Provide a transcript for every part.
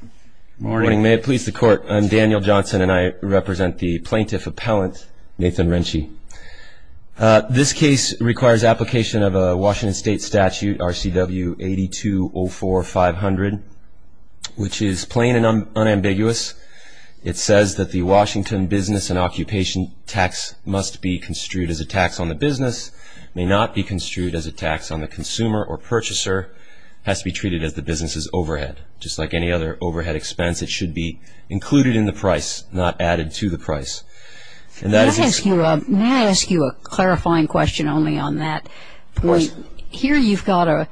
Good morning. May it please the Court, I'm Daniel Johnson and I represent the Plaintiff Appellant, Nathan Riensche. This case requires application of a Washington State Statute, RCW 8204-500, which is plain and unambiguous. It says that the Washington business and occupation tax must be construed as a tax on the business, may not be construed as a tax on the consumer or purchaser, has to be treated as the business's overhead, just like any other overhead expense, it should be included in the price, not added to the price. May I ask you a clarifying question only on that point? Of course. Here you've got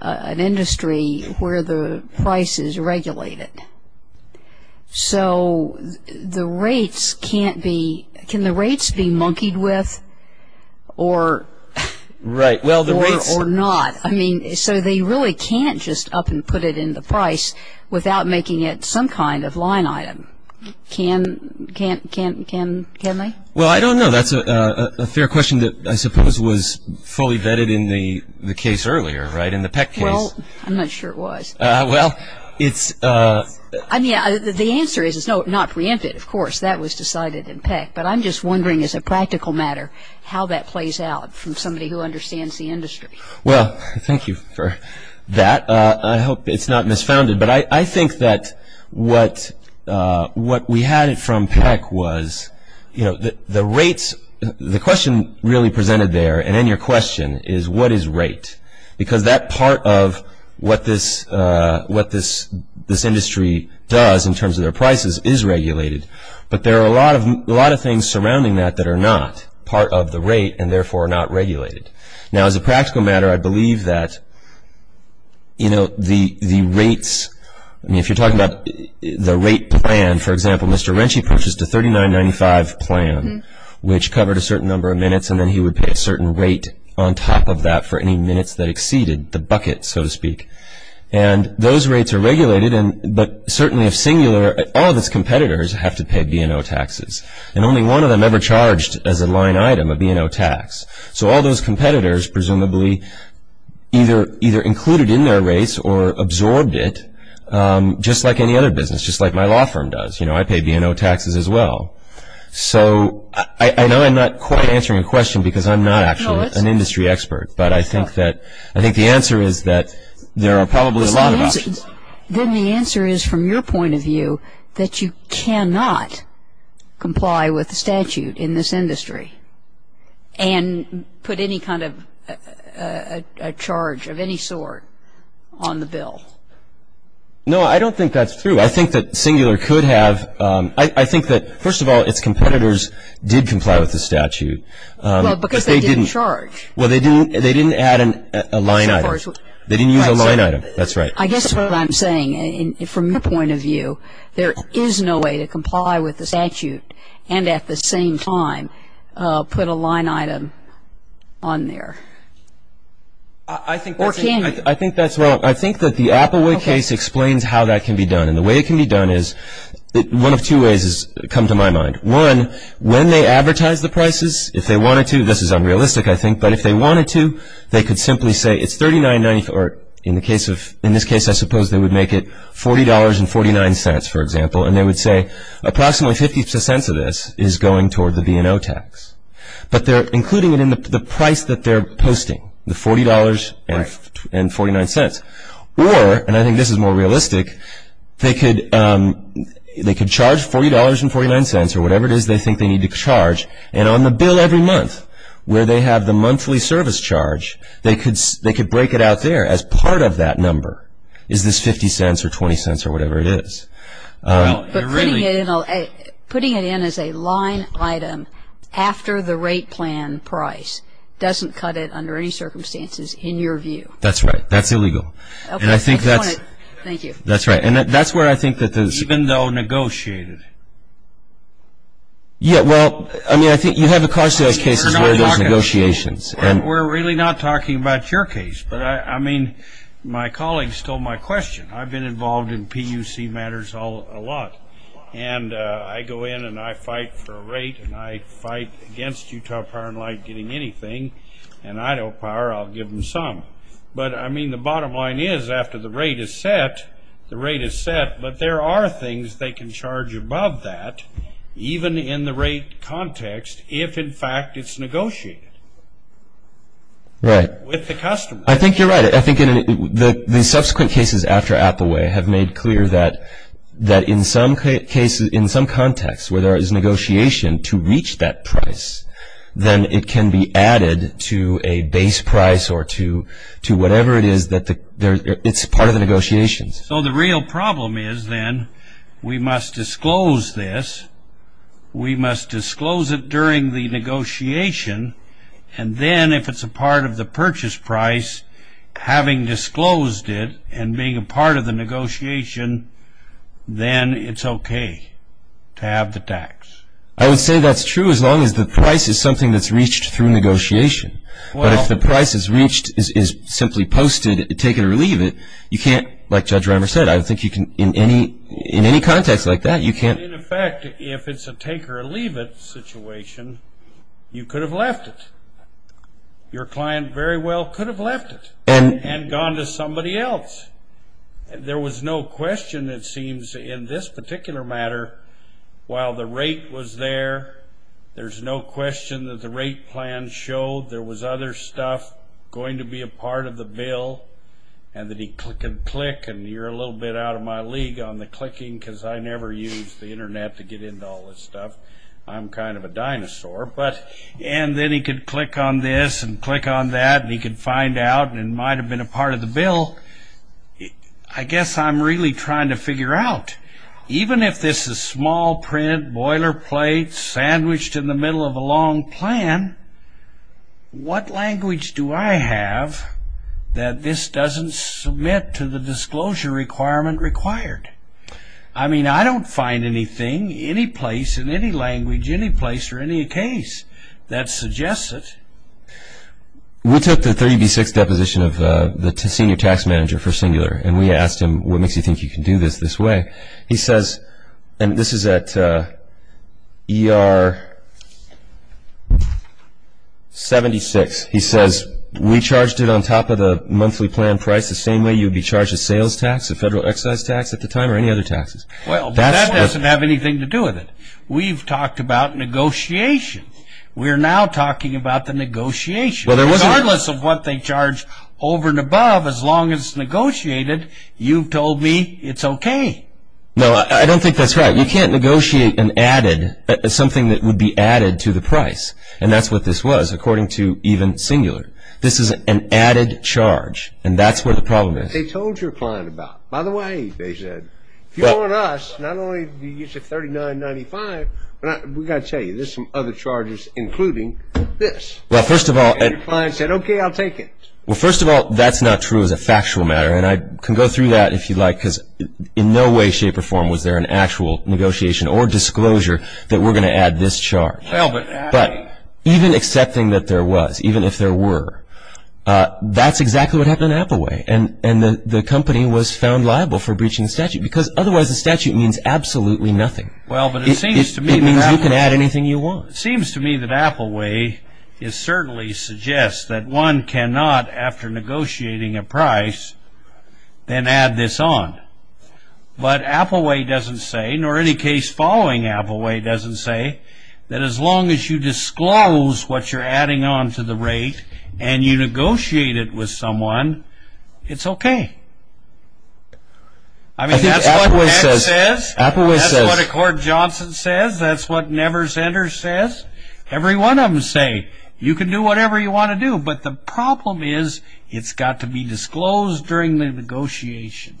an industry where the price is regulated. So the rates can't be, can the rates be monkeyed with or not? I mean, so they really can't just up and put it in the price without making it some kind of line item. Can they? Well, I don't know. That's a fair question that I suppose was fully vetted in the case earlier, right, in the Peck case. Well, I'm not sure it was. Well, it's a... I mean, the answer is no, not preempted. Of course, that was decided in Peck. But I'm just wondering as a practical matter how that plays out from somebody who understands the industry. Well, thank you for that. I hope it's not misfounded, but I think that what we had from Peck was, you know, the rates, the question really presented there and in your question is what is rate? Because that part of what this industry does in terms of their prices is regulated, but there are a lot of things surrounding that that are not part of the rate and therefore not regulated. Now, as a practical matter, I believe that, you know, the rates, I mean, if you're talking about the rate plan, for example, Mr. Rentsch purchased a $39.95 plan which covered a certain number of minutes and then he would pay a certain rate on top of that for any minutes that exceeded the bucket, so to speak. And those rates are regulated, but certainly if singular, all of its competitors have to pay B&O taxes and only one of them ever charged as a line item a B&O tax. So all those competitors presumably either included in their rates or absorbed it just like any other business, just like my law firm does. You know, I pay B&O taxes as well. So I know I'm not quite answering your question because I'm not actually an industry expert, but I think the answer is that there are probably a lot of options. Then the answer is from your point of view that you cannot comply with the statute in this industry and put any kind of a charge of any sort on the bill. No, I don't think that's true. I think that singular could have. I think that, first of all, its competitors did comply with the statute. Well, because they didn't charge. Well, they didn't add a line item. They didn't use a line item. That's right. I guess what I'm saying, from your point of view, there is no way to comply with the statute and at the same time put a line item on there. I think that's wrong. I think that the Applewood case explains how that can be done, and the way it can be done is one of two ways has come to my mind. One, when they advertise the prices, if they wanted to, this is unrealistic, I think, but if they wanted to, they could simply say it's $39.94. In this case, I suppose they would make it $40.49, for example, and they would say approximately 50 cents of this is going toward the B&O tax, but they're including it in the price that they're posting, the $40.49. Or, and I think this is more realistic, they could charge $40.49 or whatever it is they think they need to charge, and on the bill every month where they have the monthly service charge, they could break it out there as part of that number is this 50 cents or 20 cents or whatever it is. But putting it in as a line item after the rate plan price doesn't cut it under any circumstances in your view. That's right. That's illegal. Thank you. That's right. And that's where I think that there's... Even though negotiated. Yeah, well, I mean, I think you have a car sales case where there's negotiations. We're really not talking about your case, but, I mean, my colleagues told my question. I've been involved in PUC matters a lot, and I go in and I fight for a rate, and I fight against Utah Power & Light getting anything, and Idaho Power, I'll give them some. But, I mean, the bottom line is after the rate is set, the rate is set, but there are things they can charge above that even in the rate context if, in fact, it's negotiated. Right. With the customer. I think you're right. I think the subsequent cases after Appaway have made clear that in some cases, in some contexts where there is negotiation to reach that price, then it can be added to a base price or to whatever it is that it's part of the negotiations. So the real problem is then we must disclose this, we must disclose it during the negotiation, and then if it's a part of the purchase price, having disclosed it and being a part of the negotiation, then it's okay to have the tax. I would say that's true as long as the price is something that's reached through negotiation. Well. But if the price is reached, is simply posted, taken or leave it, you can't, like Judge Reimer said, I don't think you can in any context like that, you can't. In fact, if it's a take or leave it situation, you could have left it. Your client very well could have left it and gone to somebody else. There was no question, it seems, in this particular matter, while the rate was there, there's no question that the rate plan showed there was other stuff going to be a part of the bill and that he click and click and you're a little bit out of my league on the clicking because I never use the internet to get into all this stuff. I'm kind of a dinosaur. But and then he could click on this and click on that and he could find out and it might have been a part of the bill. I guess I'm really trying to figure out, even if this is small print, boilerplate, sandwiched in the middle of a long plan, what language do I have that this doesn't submit to the disclosure requirement required? I mean, I don't find anything, any place in any language, any place or any case that suggests it. We took the 30B6 deposition of the senior tax manager for Singular and we asked him, what makes you think you can do this this way? He says, and this is at ER 76, he says, we charged it on top of the monthly plan price the same way you would be charged a sales tax, a federal excise tax at the time or any other taxes. Well, that doesn't have anything to do with it. We've talked about negotiation. We're now talking about the negotiation. Regardless of what they charge over and above, as long as it's negotiated, you've told me it's okay. No, I don't think that's right. You can't negotiate an added, something that would be added to the price, and that's what this was according to even Singular. This is an added charge, and that's where the problem is. They told your client about it. By the way, they said, if you want us, not only do you use a 3995, but we've got to tell you, there's some other charges including this. Well, first of all, And your client said, okay, I'll take it. Well, first of all, that's not true as a factual matter, and I can go through that if you'd like, because in no way, shape, or form was there an actual negotiation or disclosure that we're going to add this charge. But even accepting that there was, even if there were, that's exactly what happened at Appleway, and the company was found liable for breaching the statute, because otherwise the statute means absolutely nothing. It means you can add anything you want. It seems to me that Appleway certainly suggests that one cannot, after negotiating a price, then add this on. But Appleway doesn't say, nor any case following Appleway doesn't say, that as long as you disclose what you're adding on to the rate, and you negotiate it with someone, it's okay. I mean, that's what NET says. That's what Accord Johnson says. That's what NeverSender says. Every one of them say, you can do whatever you want to do, but the problem is it's got to be disclosed during the negotiation.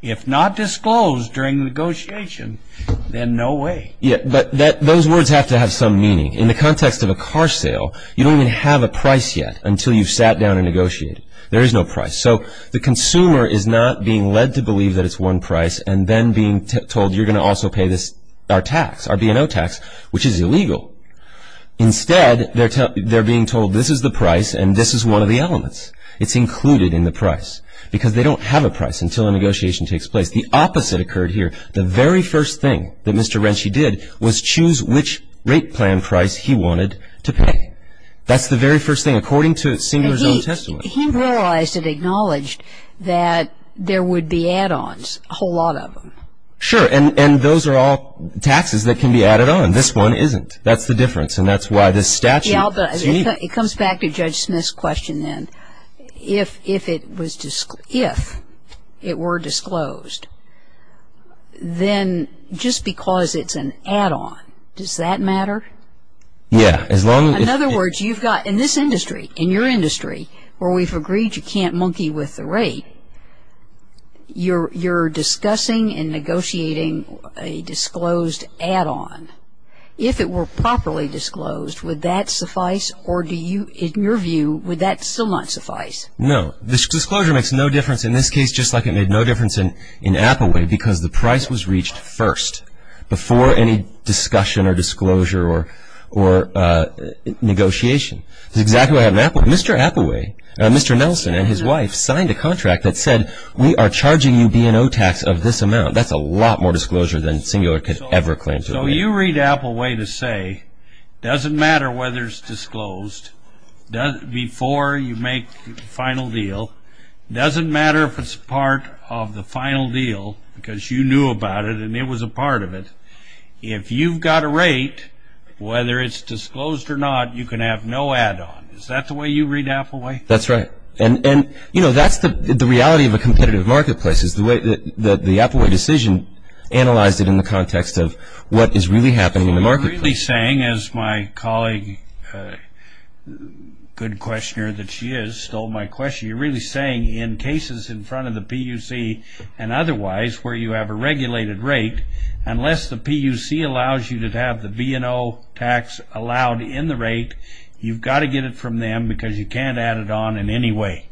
If not disclosed during the negotiation, then no way. Yeah, but those words have to have some meaning. In the context of a car sale, you don't even have a price yet until you've sat down and negotiated. There is no price. So the consumer is not being led to believe that it's one price, and then being told, you're going to also pay this, our tax, our B&O tax, which is illegal. Instead, they're being told, this is the price, and this is one of the elements. It's included in the price, because they don't have a price until a negotiation takes place. The opposite occurred here. The very first thing that Mr. Rentschy did was choose which rate plan price he wanted to pay. That's the very first thing, according to Singler's own testimony. He realized and acknowledged that there would be add-ons, a whole lot of them. Sure, and those are all taxes that can be added on. This one isn't. That's the difference, and that's why this statute is unique. It comes back to Judge Smith's question then. If it were disclosed, then just because it's an add-on, does that matter? Yeah, as long as it's... In other words, you've got, in this industry, in your industry, where we've agreed you can't monkey with the rate, you're discussing and negotiating a disclosed add-on. If it were properly disclosed, would that suffice, or do you, in your view, would that still not suffice? No. Disclosure makes no difference in this case, just like it made no difference in Appaway, because the price was reached first, before any discussion or disclosure or negotiation. That's exactly what happened in Appaway. Mr. Appaway, Mr. Nelson and his wife signed a contract that said, we are charging you B&O tax of this amount. That's a lot more disclosure than Singler could ever claim to have made. So you read Appaway to say, doesn't matter whether it's disclosed, before you make the final deal, doesn't matter if it's part of the final deal, because you knew about it and it was a part of it, if you've got a rate, whether it's disclosed or not, you can have no add-on. Is that the way you read Appaway? That's right. And, you know, that's the reality of a competitive marketplace, is the way that the Appaway decision analyzed it in the context of what is really happening in the marketplace. You're really saying, as my colleague, good questioner that she is, stole my question, you're really saying in cases in front of the PUC and otherwise where you have a regulated rate, unless the PUC allows you to have the B&O tax allowed in the rate, you've got to get it from them because you can't add it on in any way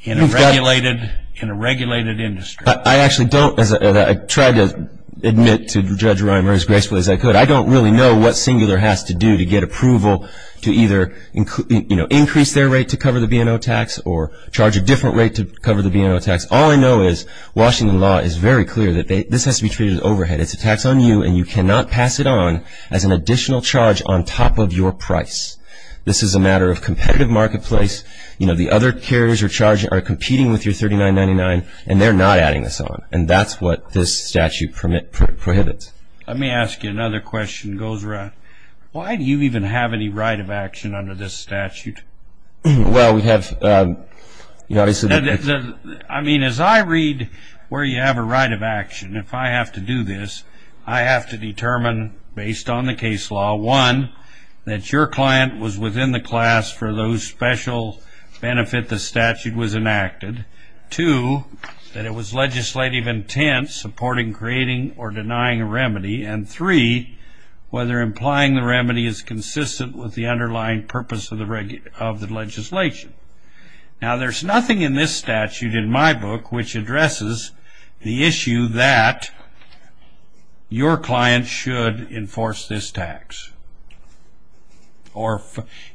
in a regulated industry. I actually don't, and I try to admit to Judge Reimer as gracefully as I could, I don't really know what Singler has to do to get approval to either, you know, charge a different rate to cover the B&O tax or charge a different rate to cover the B&O tax. All I know is Washington law is very clear that this has to be treated as overhead. It's a tax on you, and you cannot pass it on as an additional charge on top of your price. This is a matter of competitive marketplace. You know, the other carriers you're charging are competing with your $39.99, and they're not adding this on, and that's what this statute prohibits. Let me ask you another question, Gosra. Why do you even have any right of action under this statute? Well, we have, you know, I said that. I mean, as I read where you have a right of action, if I have to do this, I have to determine based on the case law, one, that your client was within the class for those special benefit the statute was enacted, two, that it was legislative intent supporting creating or denying a remedy, and three, whether implying the remedy is consistent with the underlying purpose of the legislation. Now, there's nothing in this statute in my book which addresses the issue that your client should enforce this tax or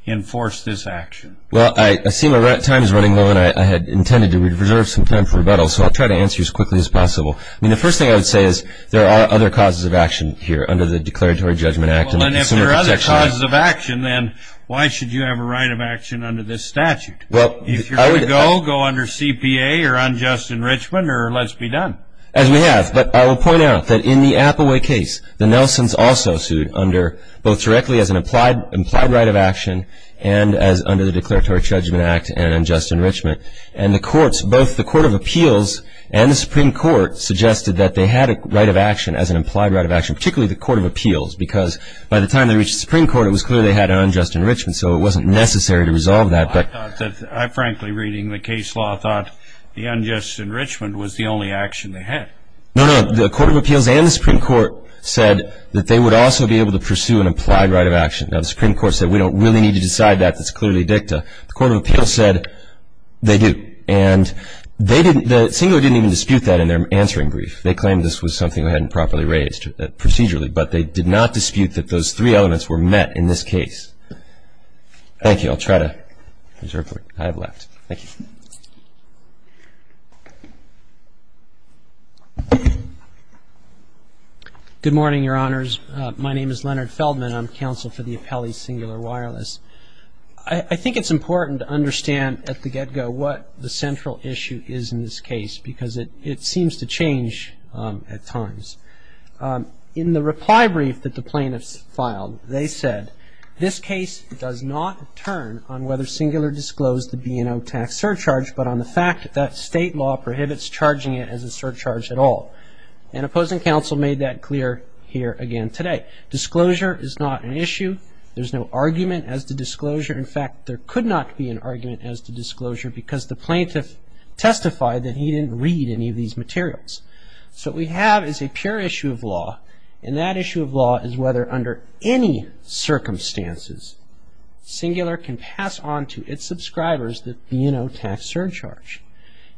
enforce this action. Well, I see my time is running low, and I had intended to reserve some time for rebuttal, so I'll try to answer as quickly as possible. I mean, the first thing I would say is there are other causes of action here under the Declaratory Judgment Act and the Consumer Protection Act. Well, and if there are other causes of action, then why should you have a right of action under this statute? If you're going to go, go under CPA or unjust enrichment or let's be done. As we have, but I will point out that in the Appaway case, the Nelsons also sued under both directly as an implied right of action and as under the Declaratory Judgment Act and unjust enrichment. And the courts, both the Court of Appeals and the Supreme Court, suggested that they had a right of action as an implied right of action, particularly the Court of Appeals, because by the time they reached the Supreme Court, it was clear they had unjust enrichment, so it wasn't necessary to resolve that. I thought that, frankly, reading the case law, I thought the unjust enrichment was the only action they had. No, no. The Court of Appeals and the Supreme Court said that they would also be able to pursue an implied right of action. Now, the Supreme Court said we don't really need to decide that. That's clearly dicta. The Court of Appeals said they do. And they didn't, the singular didn't even dispute that in their answering brief. They claimed this was something they hadn't properly raised procedurally, but they did not dispute that those three elements were met in this case. Thank you. I'll try to preserve what I have left. Thank you. Good morning, Your Honors. My name is Leonard Feldman. I'm counsel for the appellee singular wireless. I think it's important to understand at the get-go what the central issue is in this case, because it seems to change at times. In the reply brief that the plaintiffs filed, they said, this case does not turn on whether singular disclosed the B&O tax surcharge, but on the fact that that state law prohibits charging it as a surcharge at all. And opposing counsel made that clear here again today. Disclosure is not an issue. There's no argument as to disclosure. In fact, there could not be an argument as to disclosure because the plaintiff testified that he didn't read any of these materials. So what we have is a pure issue of law, and that issue of law is whether under any circumstances, singular can pass on to its subscribers the B&O tax surcharge.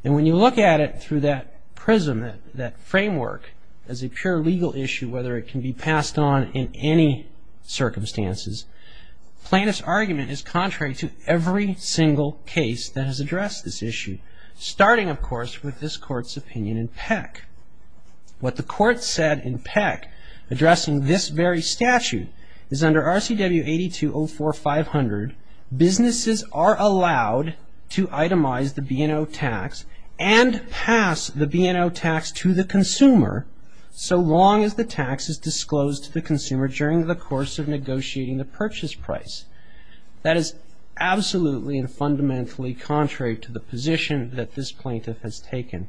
And when you look at it through that prism, that framework, as a pure legal issue, whether it can be passed on in any circumstances, plaintiff's argument is contrary to every single case that has addressed this issue, starting, of course, with this court's opinion in Peck. What the court said in Peck, addressing this very statute, is under RCW 8204-500, businesses are allowed to itemize the B&O tax and pass the B&O tax to the consumer so long as the tax is disclosed to the consumer during the course of negotiating the purchase price. That is absolutely and fundamentally contrary to the position that this plaintiff has taken.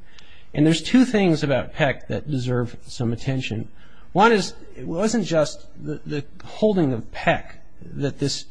And there's two things about Peck that deserve some attention. One is it wasn't just the holding of Peck that this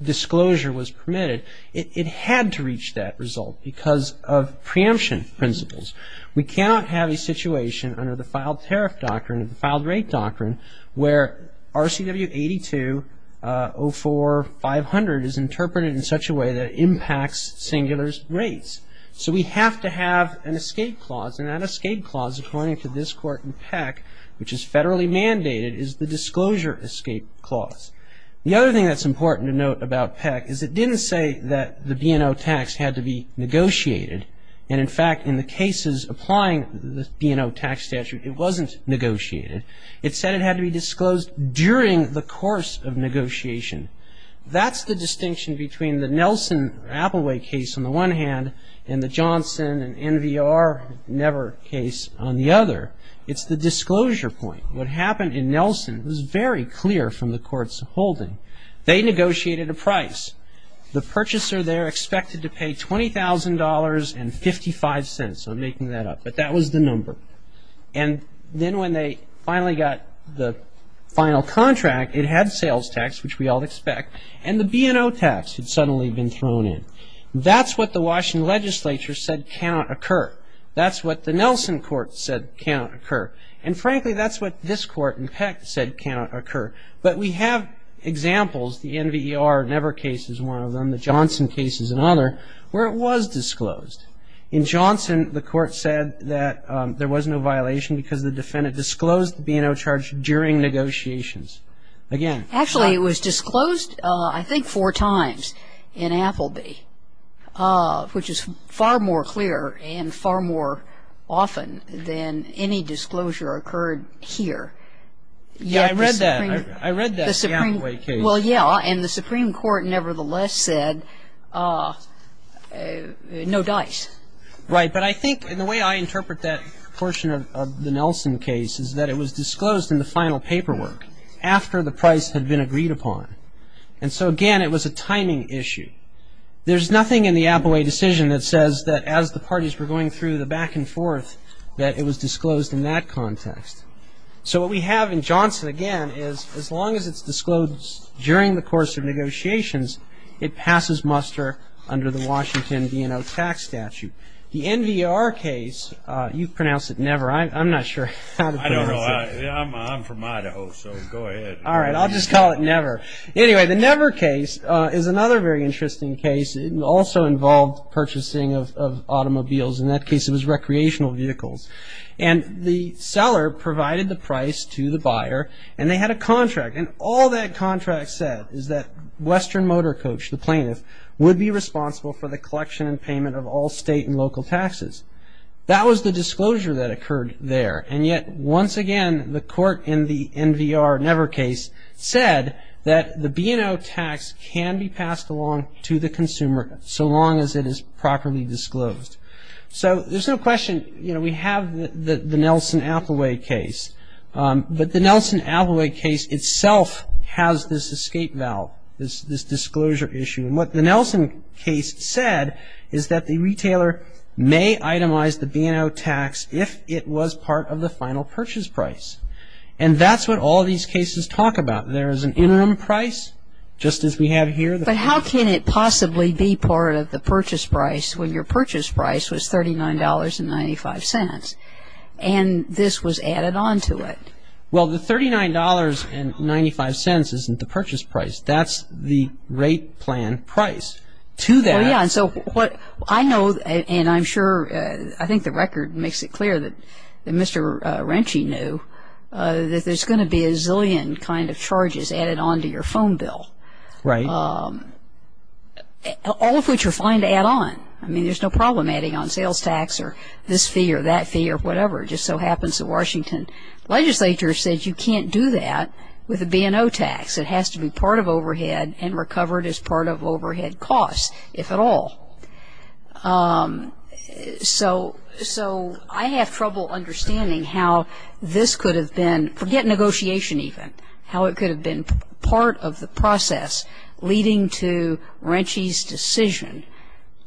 disclosure was permitted. It had to reach that result because of preemption principles. We cannot have a situation under the filed tariff doctrine, the filed rate doctrine, where RCW 8204-500 is interpreted in such a way that it impacts singular rates. So we have to have an escape clause, and that escape clause, according to this court in Peck, which is federally mandated, is the disclosure escape clause. The other thing that's important to note about Peck is it didn't say that the B&O tax had to be negotiated. And, in fact, in the cases applying the B&O tax statute, it wasn't negotiated. It said it had to be disclosed during the course of negotiation. That's the distinction between the Nelson-Applewhite case on the one hand and the Johnson-NVR-Never case on the other. It's the disclosure point. What happened in Nelson was very clear from the court's holding. They negotiated a price. The purchaser there expected to pay $20,000.55. I'm making that up, but that was the number. And then when they finally got the final contract, it had sales tax, which we all expect, and the B&O tax had suddenly been thrown in. That's what the Washington legislature said cannot occur. That's what the Nelson court said cannot occur. And, frankly, that's what this court in Peck said cannot occur. But we have examples, the NVR-Never case is one of them, the Johnson case is another, where it was disclosed. In Johnson, the court said that there was no violation because the defendant disclosed the B&O charge during negotiations. Again. Actually, it was disclosed, I think, four times in Appleby, which is far more clear and far more often than any disclosure occurred here. Yeah, I read that. I read that in the Appleby case. Well, yeah. And the Supreme Court, nevertheless, said no dice. Right. But I think the way I interpret that portion of the Nelson case is that it was disclosed in the final paperwork after the price had been agreed upon. And so, again, it was a timing issue. There's nothing in the Appleby decision that says that as the parties were going through the back and forth that it was disclosed in that context. So what we have in Johnson, again, is as long as it's disclosed during the course of negotiations, it passes muster under the Washington B&O tax statute. The NVR case, you've pronounced it never. I'm not sure how to pronounce it. I don't know. I'm from Idaho, so go ahead. All right. I'll just call it never. Anyway, the never case is another very interesting case. It also involved purchasing of automobiles. In that case, it was recreational vehicles. And the seller provided the price to the buyer, and they had a contract. And all that contract said is that Western Motor Coach, the plaintiff, would be responsible for the collection and payment of all state and local taxes. That was the disclosure that occurred there. And yet, once again, the court in the NVR never case said that the B&O tax can be passed along to the consumer so long as it is properly disclosed. So there's no question, you know, we have the Nelson-Appleby case. But the Nelson-Appleby case itself has this escape valve, this disclosure issue. And what the Nelson case said is that the retailer may itemize the B&O tax if it was part of the final purchase price. And that's what all these cases talk about. There is an interim price, just as we have here. But how can it possibly be part of the purchase price when your purchase price was $39.95, and this was added on to it? Well, the $39.95 isn't the purchase price. That's the rate plan price. Oh, yeah. And so what I know, and I'm sure I think the record makes it clear that Mr. Ranchi knew, that there's going to be a zillion kind of charges added on to your phone bill. Right. All of which are fine to add on. I mean, there's no problem adding on sales tax or this fee or that fee or whatever. It just so happens that Washington legislature said you can't do that with a B&O tax. It has to be part of overhead and recovered as part of overhead costs, if at all. So I have trouble understanding how this could have been, forget negotiation even, how it could have been part of the process leading to Ranchi's decision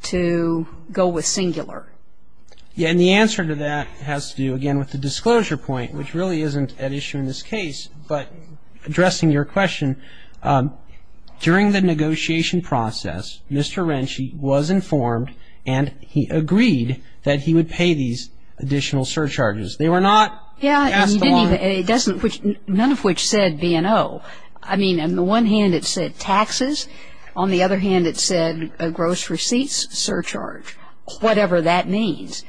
to go with singular. Yeah, and the answer to that has to do, again, with the disclosure point, which really isn't an issue in this case. But addressing your question, during the negotiation process, Mr. Ranchi was informed and he agreed that he would pay these additional surcharges. They were not passed along. Yeah, he didn't even, none of which said B&O. I mean, on the one hand, it said taxes. On the other hand, it said gross receipts surcharge, whatever that means.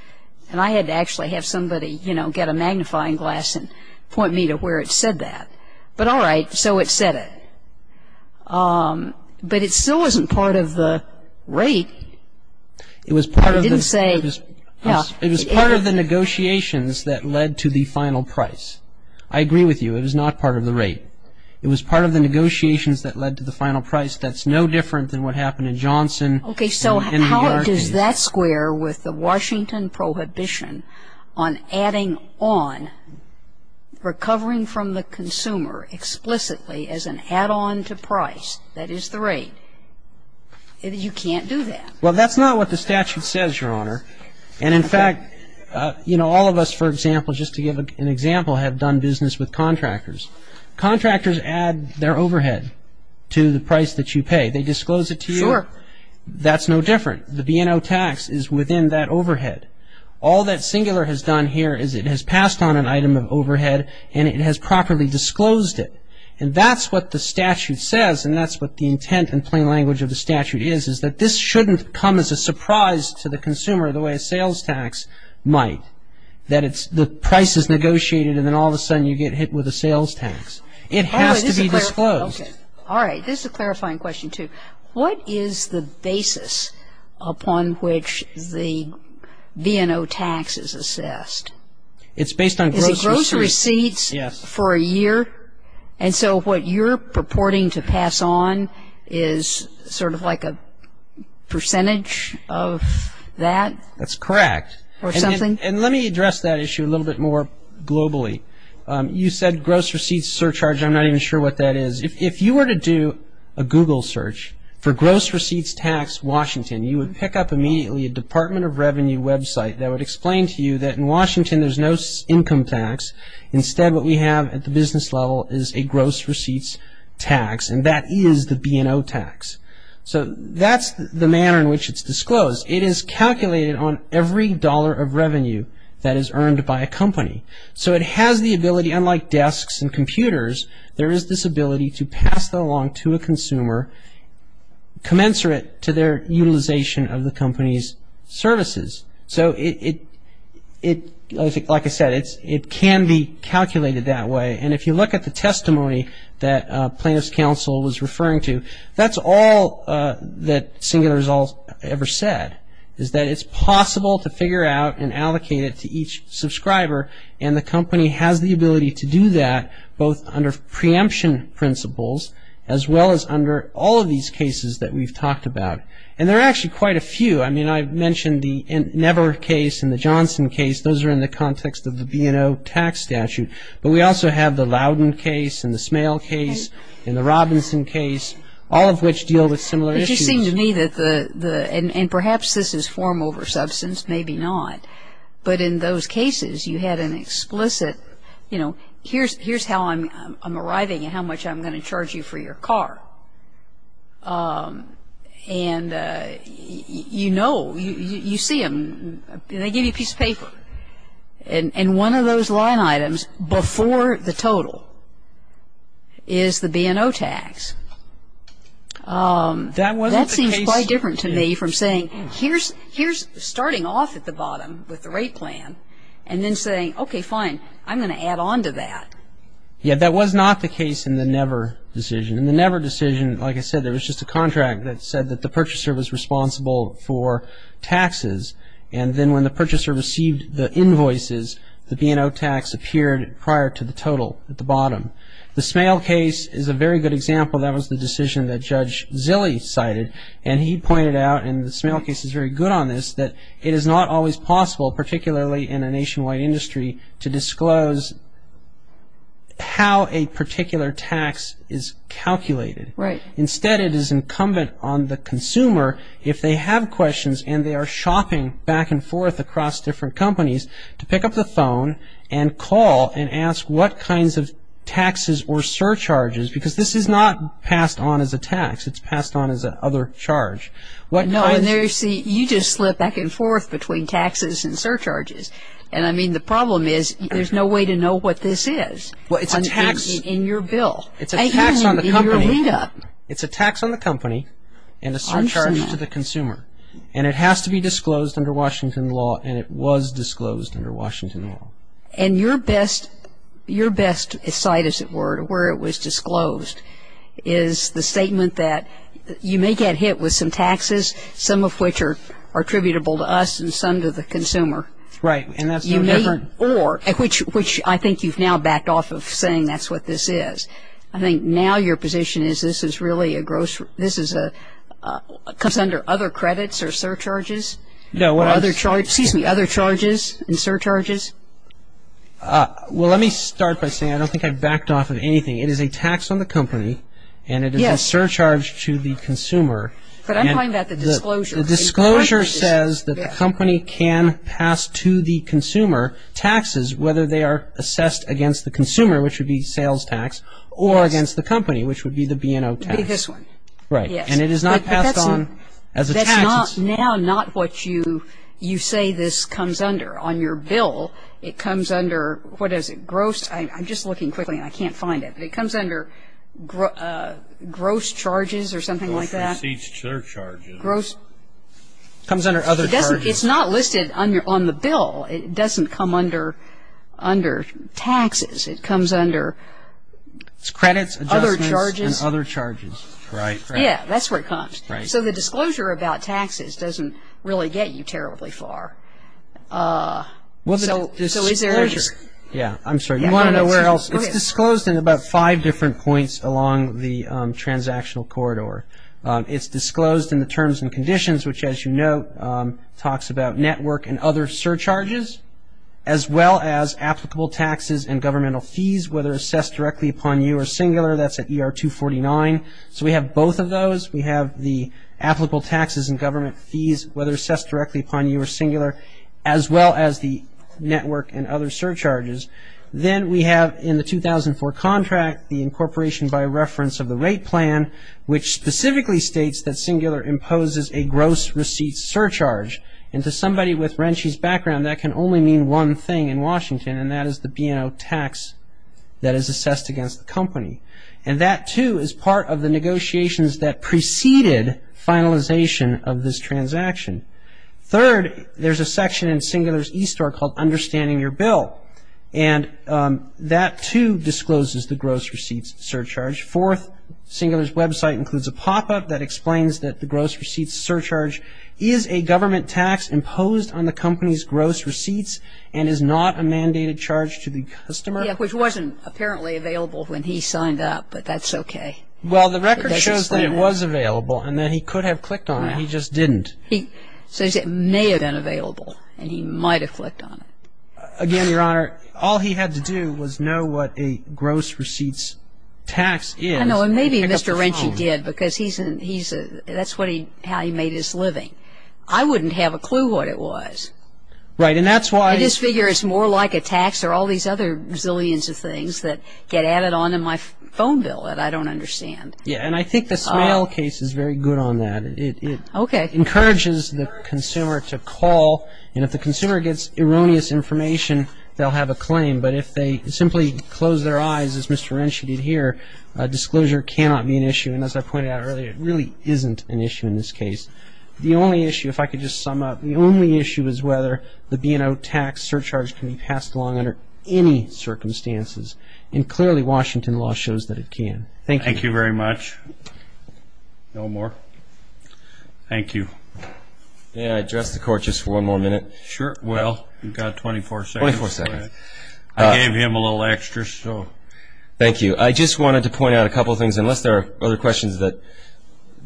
And I had to actually have somebody, you know, get a magnifying glass and point me to where it said that. But all right, so it said it. But it still wasn't part of the rate. It was part of the negotiations that led to the final price. I agree with you. It was not part of the rate. It was part of the negotiations that led to the final price. That's no different than what happened in Johnson and New York. Okay, so how does that square with the Washington prohibition on adding on, recovering from the consumer explicitly as an add-on to price, that is the rate? You can't do that. Well, that's not what the statute says, Your Honor. And, in fact, you know, all of us, for example, just to give an example, have done business with contractors. Contractors add their overhead to the price that you pay. They disclose it to you. Sure. That's no different. The B&O tax is within that overhead. All that Singular has done here is it has passed on an item of overhead and it has properly disclosed it. And that's what the statute says, and that's what the intent in plain language of the statute is, is that this shouldn't come as a surprise to the consumer the way a sales tax might, that the price is negotiated and then all of a sudden you get hit with a sales tax. It has to be disclosed. Okay. All right. This is a clarifying question, too. What is the basis upon which the B&O tax is assessed? It's based on gross receipts. Is it gross receipts for a year? Yes. And so what you're purporting to pass on is sort of like a percentage of that? That's correct. Or something? And let me address that issue a little bit more globally. You said gross receipts surcharge. I'm not even sure what that is. If you were to do a Google search for gross receipts tax Washington, you would pick up immediately a Department of Revenue website that would explain to you that in Washington there's no income tax. Instead what we have at the business level is a gross receipts tax, and that is the B&O tax. So that's the manner in which it's disclosed. It is calculated on every dollar of revenue that is earned by a company. So it has the ability, unlike desks and computers, there is this ability to pass that along to a consumer commensurate to their utilization of the company's services. So, like I said, it can be calculated that way. And if you look at the testimony that plaintiff's counsel was referring to, that's all that Singular Result ever said, is that it's possible to figure out and allocate it to each subscriber, and the company has the ability to do that both under preemption principles as well as under all of these cases that we've talked about. And there are actually quite a few. I mean, I mentioned the Never case and the Johnson case. Those are in the context of the B&O tax statute. But we also have the Loudon case and the Smale case and the Robinson case, all of which deal with similar issues. It seemed to me that the – and perhaps this is form over substance, maybe not. But in those cases, you had an explicit, you know, here's how I'm arriving and how much I'm going to charge you for your car. And you know, you see them, they give you a piece of paper. And one of those line items before the total is the B&O tax. That seems quite different to me from saying, here's starting off at the bottom with the rate plan, and then saying, okay, fine, I'm going to add on to that. Yeah, that was not the case in the Never decision. In the Never decision, like I said, there was just a contract that said that the purchaser was responsible for taxes. And then when the purchaser received the invoices, the B&O tax appeared prior to the total at the bottom. The Smale case is a very good example. That was the decision that Judge Zille cited. And he pointed out, and the Smale case is very good on this, that it is not always possible, particularly in a nationwide industry, to disclose how a particular tax is calculated. Instead, it is incumbent on the consumer, if they have questions and they are shopping back and forth across different companies, to pick up the phone and call and ask what kinds of taxes or surcharges, because this is not passed on as a tax. It's passed on as an other charge. No, and there you see, you just slip back and forth between taxes and surcharges. And I mean, the problem is, there's no way to know what this is in your bill. It's a tax on the company. It's a tax on the company and a surcharge to the consumer. And it has to be disclosed under Washington law, and it was disclosed under Washington law. And your best sight, as it were, to where it was disclosed, is the statement that you may get hit with some taxes, some of which are attributable to us and some to the consumer. Right, and that's no different. Or, which I think you've now backed off of saying that's what this is. I think now your position is this is really a gross, this is a, comes under other credits or surcharges. No, what I. Or other charges, excuse me, other charges and surcharges. Well, let me start by saying I don't think I've backed off of anything. It is a tax on the company. Yes. And it is a surcharge to the consumer. But I'm calling that the disclosure. The disclosure says that the company can pass to the consumer taxes, whether they are assessed against the consumer, which would be sales tax, or against the company, which would be the B&O tax. This one. Right. Yes. And it is not passed on as a tax. That's not, now not what you say this comes under. On your bill, it comes under, what is it, gross, I'm just looking quickly and I can't find it. It comes under gross charges or something like that. Gross receipts, surcharges. Gross. It comes under other charges. It doesn't, it's not listed on the bill. It doesn't come under taxes. It comes under. It's credits, adjustments. Other charges. And other charges. Right, right. Yes, that's where it comes. Right. So the disclosure about taxes doesn't really get you terribly far. Well, the disclosure. So is there. Yes, I'm sorry. You want to know where else. It's disclosed in about five different points along the transactional corridor. It's disclosed in the terms and conditions, which, as you know, talks about network and other surcharges as well as applicable taxes and governmental fees, whether assessed directly upon you or singular. That's at ER 249. So we have both of those. We have the applicable taxes and government fees, whether assessed directly upon you or singular, as well as the network and other surcharges. Then we have in the 2004 contract the incorporation by reference of the rate plan, which specifically states that Singular imposes a gross receipt surcharge. And to somebody with RENCI's background, that can only mean one thing in Washington, and that is the B&O tax that is assessed against the company. And that, too, is part of the negotiations that preceded finalization of this transaction. Third, there's a section in Singular's e-store called understanding your bill. And that, too, discloses the gross receipt surcharge. Fourth, Singular's website includes a pop-up that explains that the gross receipt surcharge is a government tax imposed on the company's gross receipts and is not a mandated charge to the customer. Yeah, which wasn't apparently available when he signed up, but that's okay. Well, the record shows that it was available and that he could have clicked on it. He just didn't. He says it may have been available, and he might have clicked on it. Again, Your Honor, all he had to do was know what a gross receipts tax is and pick up the phone. I know, and maybe Mr. RENCI did because that's how he made his living. I wouldn't have a clue what it was. Right, and that's why. I just figure it's more like a tax or all these other zillions of things that get added on in my phone bill that I don't understand. Yeah, and I think the Smale case is very good on that. Okay. It encourages the consumer to call, and if the consumer gets erroneous information, they'll have a claim, but if they simply close their eyes, as Mr. RENCI did here, a disclosure cannot be an issue, and as I pointed out earlier, it really isn't an issue in this case. The only issue, if I could just sum up, the only issue is whether the B&O tax surcharge can be passed along under any circumstances, and clearly Washington law shows that it can. Thank you. Thank you very much. No more. Thank you. May I address the Court just for one more minute? Sure. Well, you've got 24 seconds. 24 seconds. I gave him a little extra, so. Thank you. I just wanted to point out a couple of things, unless there are other questions,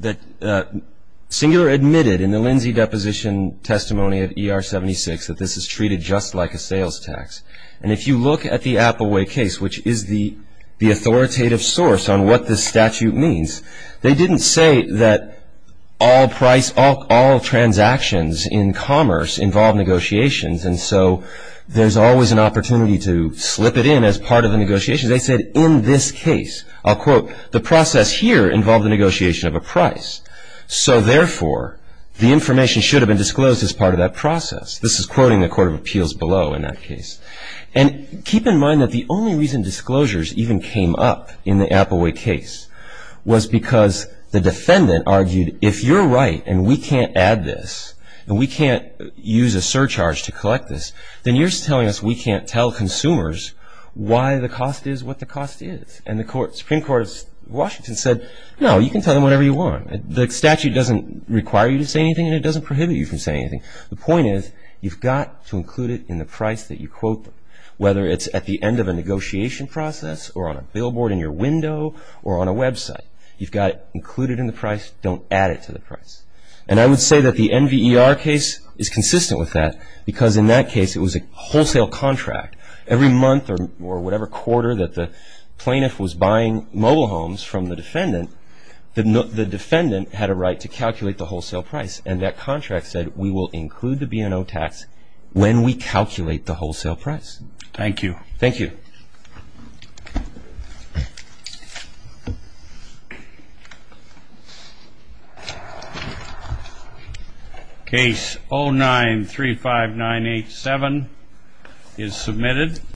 that Singular admitted in the Lindsay deposition testimony of ER-76 that this is treated just like a sales tax, and if you look at the Appleway case, which is the authoritative source on what this statute means, they didn't say that all transactions in commerce involve negotiations, and so there's always an opportunity to slip it in as part of the negotiations. They said in this case, I'll quote, the process here involved the negotiation of a price, so therefore the information should have been disclosed as part of that process. This is quoting the Court of Appeals below in that case. And keep in mind that the only reason disclosures even came up in the Appleway case was because the defendant argued, if you're right and we can't add this and we can't use a surcharge to collect this, then you're telling us we can't tell consumers why the cost is what the cost is. And the Supreme Court of Washington said, no, you can tell them whatever you want. The statute doesn't require you to say anything and it doesn't prohibit you from saying anything. The point is, you've got to include it in the price that you quote them, whether it's at the end of a negotiation process or on a billboard in your window or on a website. You've got to include it in the price, don't add it to the price. And I would say that the NVER case is consistent with that because in that case it was a wholesale contract. Every month or whatever quarter that the plaintiff was buying mobile homes from the defendant, the defendant had a right to calculate the wholesale price, and that contract said we will include the B&O tax when we calculate the wholesale price. Thank you. Thank you. Case 09-35987 is submitted.